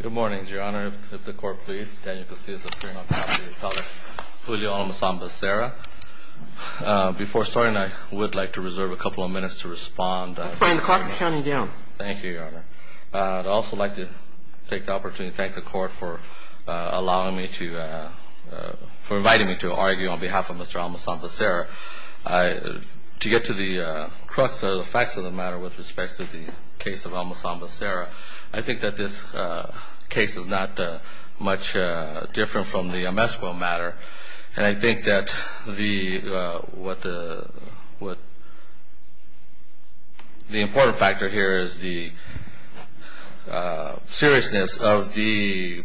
Good morning, your honor. If the court please. Daniel Casillas, attorney on behalf of your colleague, Julio Almazan-Becerra. Before starting, I would like to reserve a couple of minutes to respond. That's fine. The clock is counting down. Thank you, your honor. I'd also like to take the opportunity to thank the court for allowing me to, for inviting me to argue on behalf of Mr. Almazan-Becerra. To get to the crux of the facts of the matter with respect to the case of Almazan-Becerra, I think that this case is not much different from the Amesco matter. And I think that the important factor here is the seriousness of the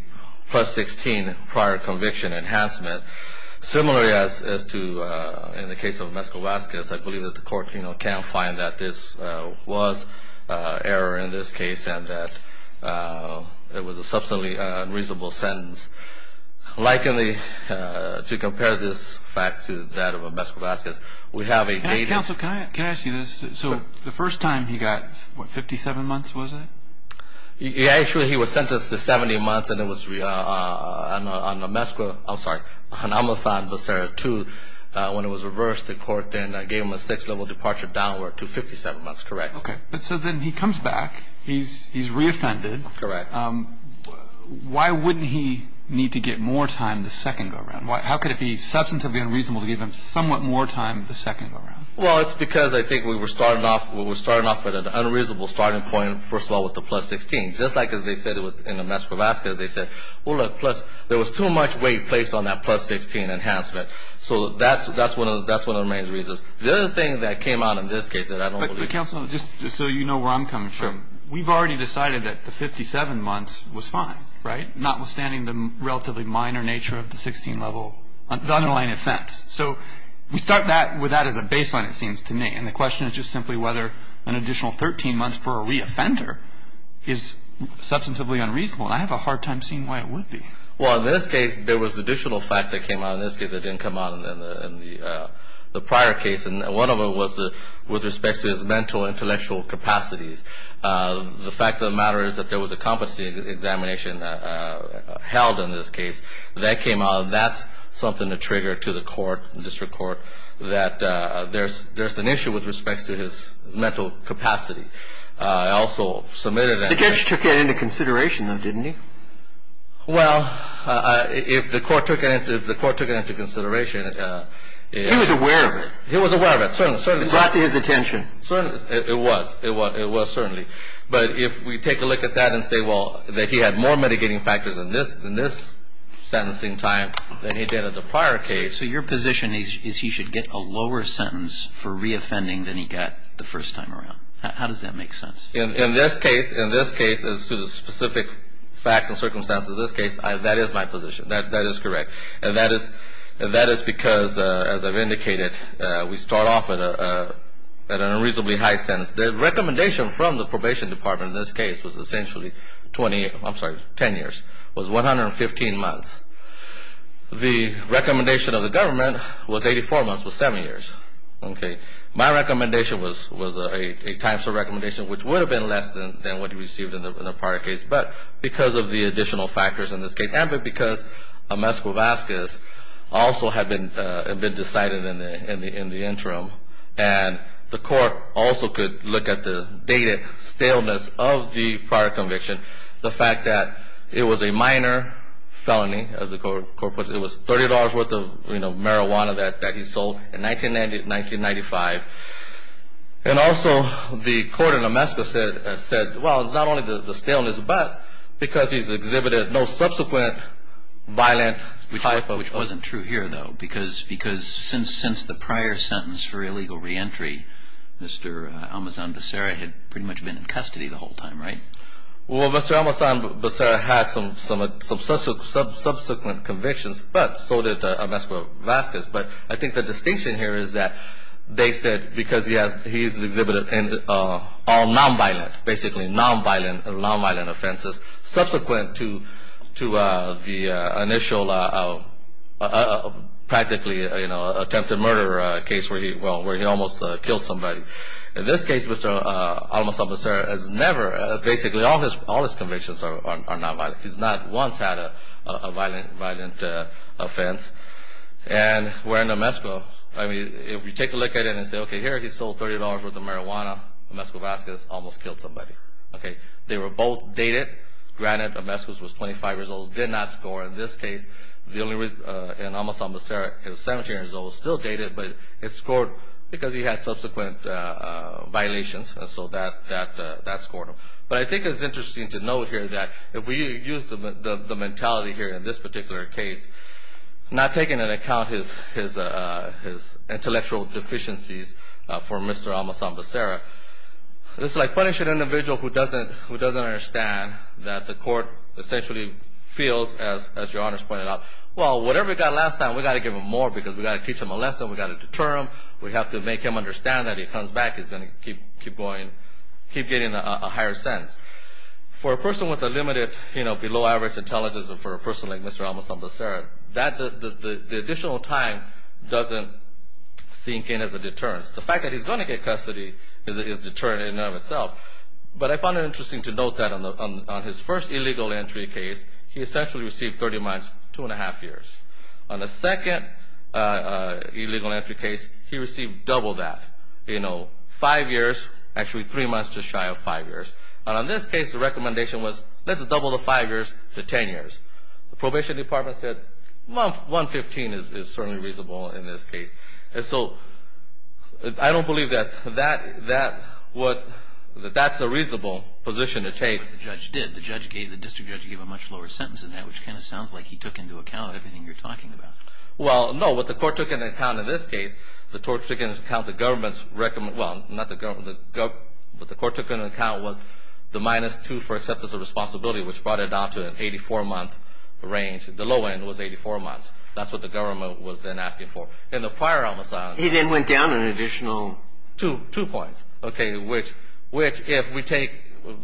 plus 16 prior conviction enhancement. Similarly as to in the case of Amesco-Vasquez, I believe that the court cannot find that this was error in this case and that it was a substantially unreasonable sentence. Likely to compare this fact to that of Amesco-Vasquez, we have a native... Counsel, can I ask you this? So the first time he got, what, 57 months was it? Actually he was sentenced to 70 months and it was on Amesco, I'm sorry, on Almazan-Becerra too. When it was reversed, the court then gave him a six level departure downward to 57 months, correct. Okay, but so then he comes back, he's re-offended. Correct. Why wouldn't he need to get more time the second go around? How could it be substantively unreasonable to give him somewhat more time the second go around? Well, it's because I think we were starting off at an unreasonable starting point, first of all, with the plus 16. Just like as they said in Amesco-Vasquez, they said, well look, plus there was too much weight placed on that plus 16 enhancement. So that's one of the main reasons. The other thing that came out in this case that I don't believe... Counsel, just so you know where I'm coming from, we've already decided that the 57 months was fine, right? Notwithstanding the relatively minor nature of the 16 level, the underlying offense. So we start with that as a baseline, it seems to me. And the question is just simply whether an additional 13 months for a re-offender is substantively unreasonable. And I have a hard time seeing why it would be. Well, in this case, there was additional facts that came out in this case that didn't come out in the prior case. And one of them was with respect to his mental intellectual capacities. The fact of the matter is that there was a competency examination held in this case. That came out. That's something to trigger to the court, district court, that there's an issue with respect to his mental capacity. I also submitted... The judge took it into consideration, though, didn't he? Well, if the court took it into consideration... He was aware of it. He was aware of it, certainly. It got to his attention. It was. It was certainly. But if we take a look at that and say, well, that he had more mitigating factors in this sentencing time than he did in the prior case... So your position is he should get a lower sentence for re-offending than he got the first time around. How does that make sense? In this case, in this case, as to the specific facts and circumstances of this case, that is my position. That is correct. And that is because, as I've indicated, we start off at an unreasonably high sentence. The recommendation from the probation department in this case was essentially 20 years. I'm sorry, 10 years. It was 115 months. The recommendation of the government was 84 months, was 7 years. My recommendation was a time-server recommendation, which would have been less than what he received in the prior case, but because of the additional factors in this case, and because a mesquivascus also had been decided in the interim. And the court also could look at the dated staleness of the prior conviction, the fact that it was a minor felony, as the court puts it. It was $30 worth of, you know, marijuana that he sold in 1995. And also the court in Mesquica said, well, it's not only the staleness, but because he's exhibited no subsequent violent typo. Which wasn't true here, though, because since the prior sentence for illegal re-entry, Mr. Almazan Becerra had pretty much been in custody the whole time, right? Well, Mr. Almazan Becerra had some subsequent convictions, but so did a mesquivascus. But I think the distinction here is that they said because he's exhibited all non-violent, basically non-violent offenses, subsequent to the initial practically attempted murder case where he almost killed somebody. In this case, Mr. Almazan Becerra has never, basically all his convictions are non-violent. He's not once had a violent offense. And where in Mesquica, I mean, if you take a look at it and say, okay, here he sold $30 worth of marijuana, mesquivascus, almost killed somebody. Okay, they were both dated. Granted, a mesquicus was 25 years old, did not score. In this case, the only reason Almazan Becerra is 17 years old, still dated, but it scored because he had subsequent violations, and so that scored him. But I think it's interesting to note here that if we use the mentality here in this particular case, not taking into account his intellectual deficiencies for Mr. Almazan Becerra, it's like punishing an individual who doesn't understand that the court essentially feels, as Your Honors pointed out, well, whatever he got last time, we've got to give him more because we've got to teach him a lesson, we've got to deter him, we have to make him understand that if he comes back, he's going to keep getting a higher sense. For a person with a limited, you know, below-average intelligence, or for a person like Mr. Almazan Becerra, the additional time doesn't sink in as a deterrence. The fact that he's going to get custody is deterrent in and of itself. But I find it interesting to note that on his first illegal entry case, he essentially received 30 months, 2 1⁄2 years. On the second illegal entry case, he received double that, you know, 5 years, actually 3 months to shy of 5 years. And on this case, the recommendation was, let's double the 5 years to 10 years. The probation department said, well, 115 is certainly reasonable in this case. And so I don't believe that that's a reasonable position to take. But the judge did. The district judge gave a much lower sentence than that, which kind of sounds like he took into account everything you're talking about. Well, no. What the court took into account in this case, the court took into account the government's recommendation. Well, not the government. What the court took into account was the minus 2 for acceptance of responsibility, which brought it down to an 84-month range. The low end was 84 months. That's what the government was then asking for. He then went down an additional 2 points. Okay, which if we take,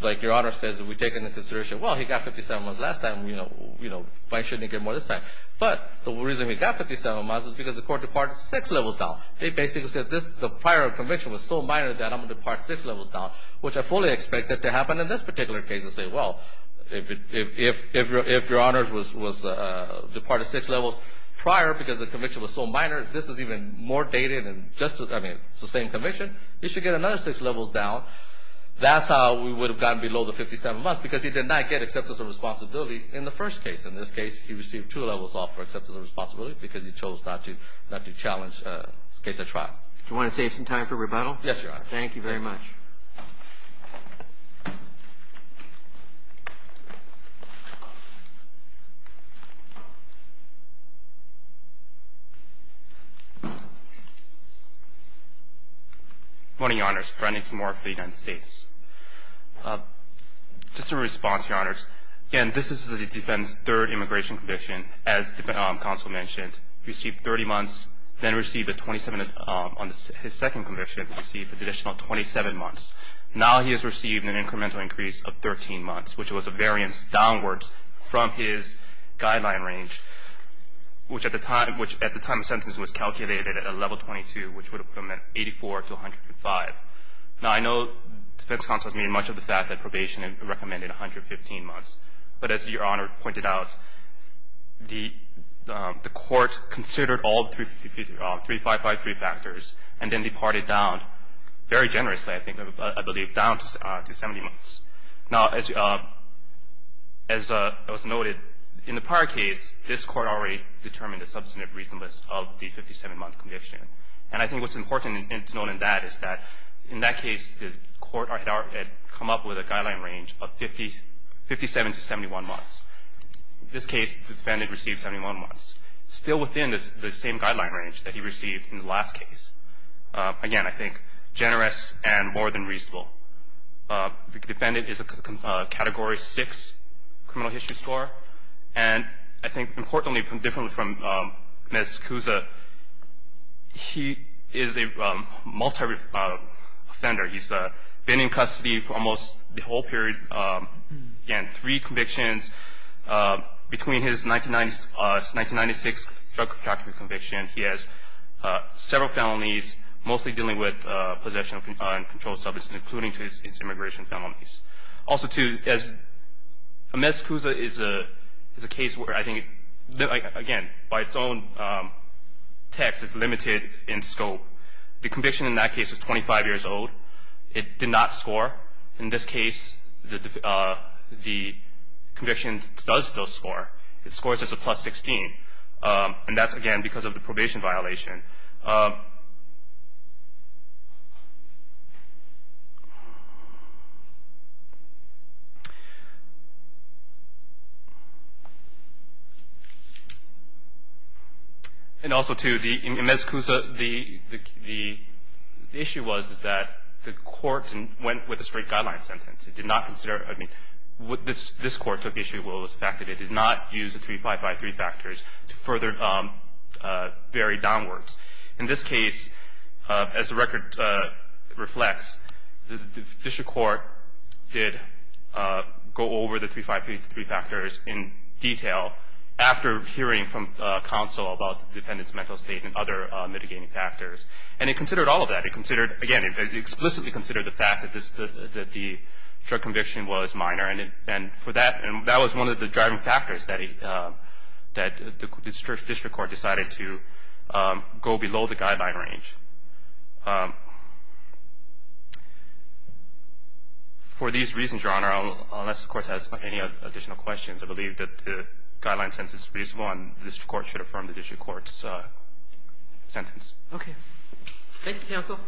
like Your Honor says, if we take into consideration, well, he got 57 months last time, you know, why shouldn't he get more this time? But the reason he got 57 months is because the court departed 6 levels down. They basically said the prior conviction was so minor that I'm going to depart 6 levels down, which I fully expected to happen in this particular case and say, well, if Your Honor departed 6 levels prior because the conviction was so minor, this is even more dated and just, I mean, it's the same conviction. He should get another 6 levels down. That's how we would have gotten below the 57 months because he did not get acceptance of responsibility in the first case. In this case, he received 2 levels off for acceptance of responsibility because he chose not to challenge the case at trial. Do you want to save some time for rebuttal? Yes, Your Honor. Thank you very much. Good morning, Your Honors. Brandon Kimura for the United States. Just a response, Your Honors. Again, this is the defendant's third immigration conviction, as counsel mentioned. He received 30 months, then received a 27 on his second conviction, received an additional 27 months. Now he has received an incremental increase of 13 months, which was a variance downward from his guideline range, which at the time of sentence was calculated at a level 22, which would have put him at 84 to 105. Now I know defense counsel has made much of the fact that probation recommended 115 months, but as Your Honor pointed out, the court considered all 3553 factors and then departed down very generously, I believe, down to 70 months. Now as was noted in the prior case, this court already determined a substantive reasonableness of the 57-month conviction, and I think what's important to note in that is that in that case, the court had come up with a guideline range of 57 to 71 months. In this case, the defendant received 71 months, still within the same guideline range that he received in the last case. Again, I think generous and more than reasonable. The defendant is a Category 6 criminal history score, and I think importantly, differently from Ms. Cusa, he is a multi-offender. He's been in custody for almost the whole period. Again, three convictions. Between his 1996 drug trafficking conviction, he has several felonies, mostly dealing with possession and controlled substance, including his immigration felonies. Also, too, Ms. Cusa is a case where I think, again, by its own text, is limited in scope. The conviction in that case was 25 years old. It did not score. In this case, the conviction does still score. It scores as a plus 16, and that's, again, because of the probation violation. And also, too, in Ms. Cusa, the issue was, is that the court went with a straight guideline sentence. It did not consider — I mean, this Court took issue with the fact that it did not use the 3-5-5-3 factors to further vary downwards. In this case, as the record reflects, the district court did go over the 3-5-5-3 factors in detail after hearing from counsel about the defendant's mental state and other mitigating factors. And it considered all of that. It considered, again, it explicitly considered the fact that the drug conviction was minor. And for that — and that was one of the driving factors that he — that the district court decided to go below the guideline range. For these reasons, Your Honor, unless the Court has any additional questions, I believe that the guideline sentence is reasonable, and the district court should affirm the district court's sentence. Okay. Thank you, counsel.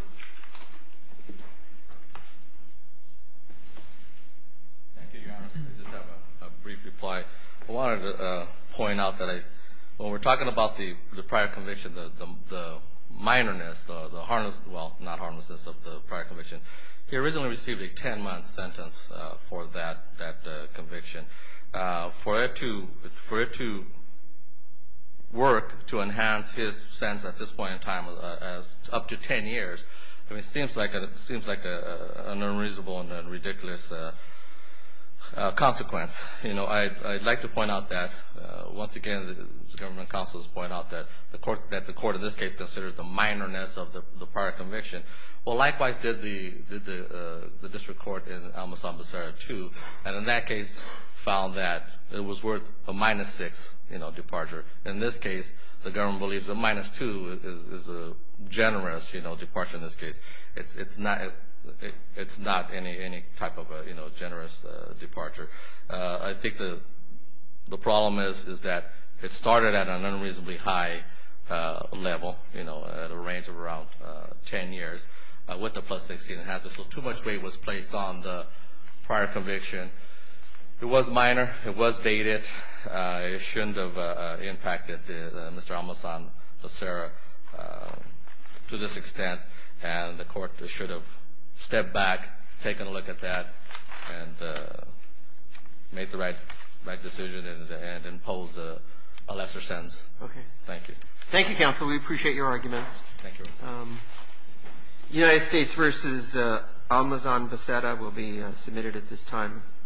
Thank you, Your Honor. I just have a brief reply. I wanted to point out that I — when we're talking about the prior conviction, the minoreness, the harnessed — well, not harnessedness of the prior conviction, he originally received a 10-month sentence for that conviction. For it to work, to enhance his sentence at this point in time, up to 10 years, I mean, it seems like an unreasonable and ridiculous consequence. You know, I'd like to point out that, once again, the government counsel has pointed out that the court in this case considered the minoreness of the prior conviction. Well, likewise did the district court in Al-Masabdassara 2. And in that case, found that it was worth a minus 6 departure. In this case, the government believes a minus 2 is a generous departure in this case. It's not any type of a generous departure. I think the problem is that it started at an unreasonably high level, at a range of around 10 years, with a plus 16. So too much weight was placed on the prior conviction. It was minor. It was dated. It shouldn't have impacted Mr. Al-Masabdassara to this extent. And the court should have stepped back, taken a look at that, and made the right decision and imposed a lesser sentence. Thank you. Thank you, counsel. We appreciate your arguments. Thank you. United States v. Al-Masabdassara will be submitted at this time.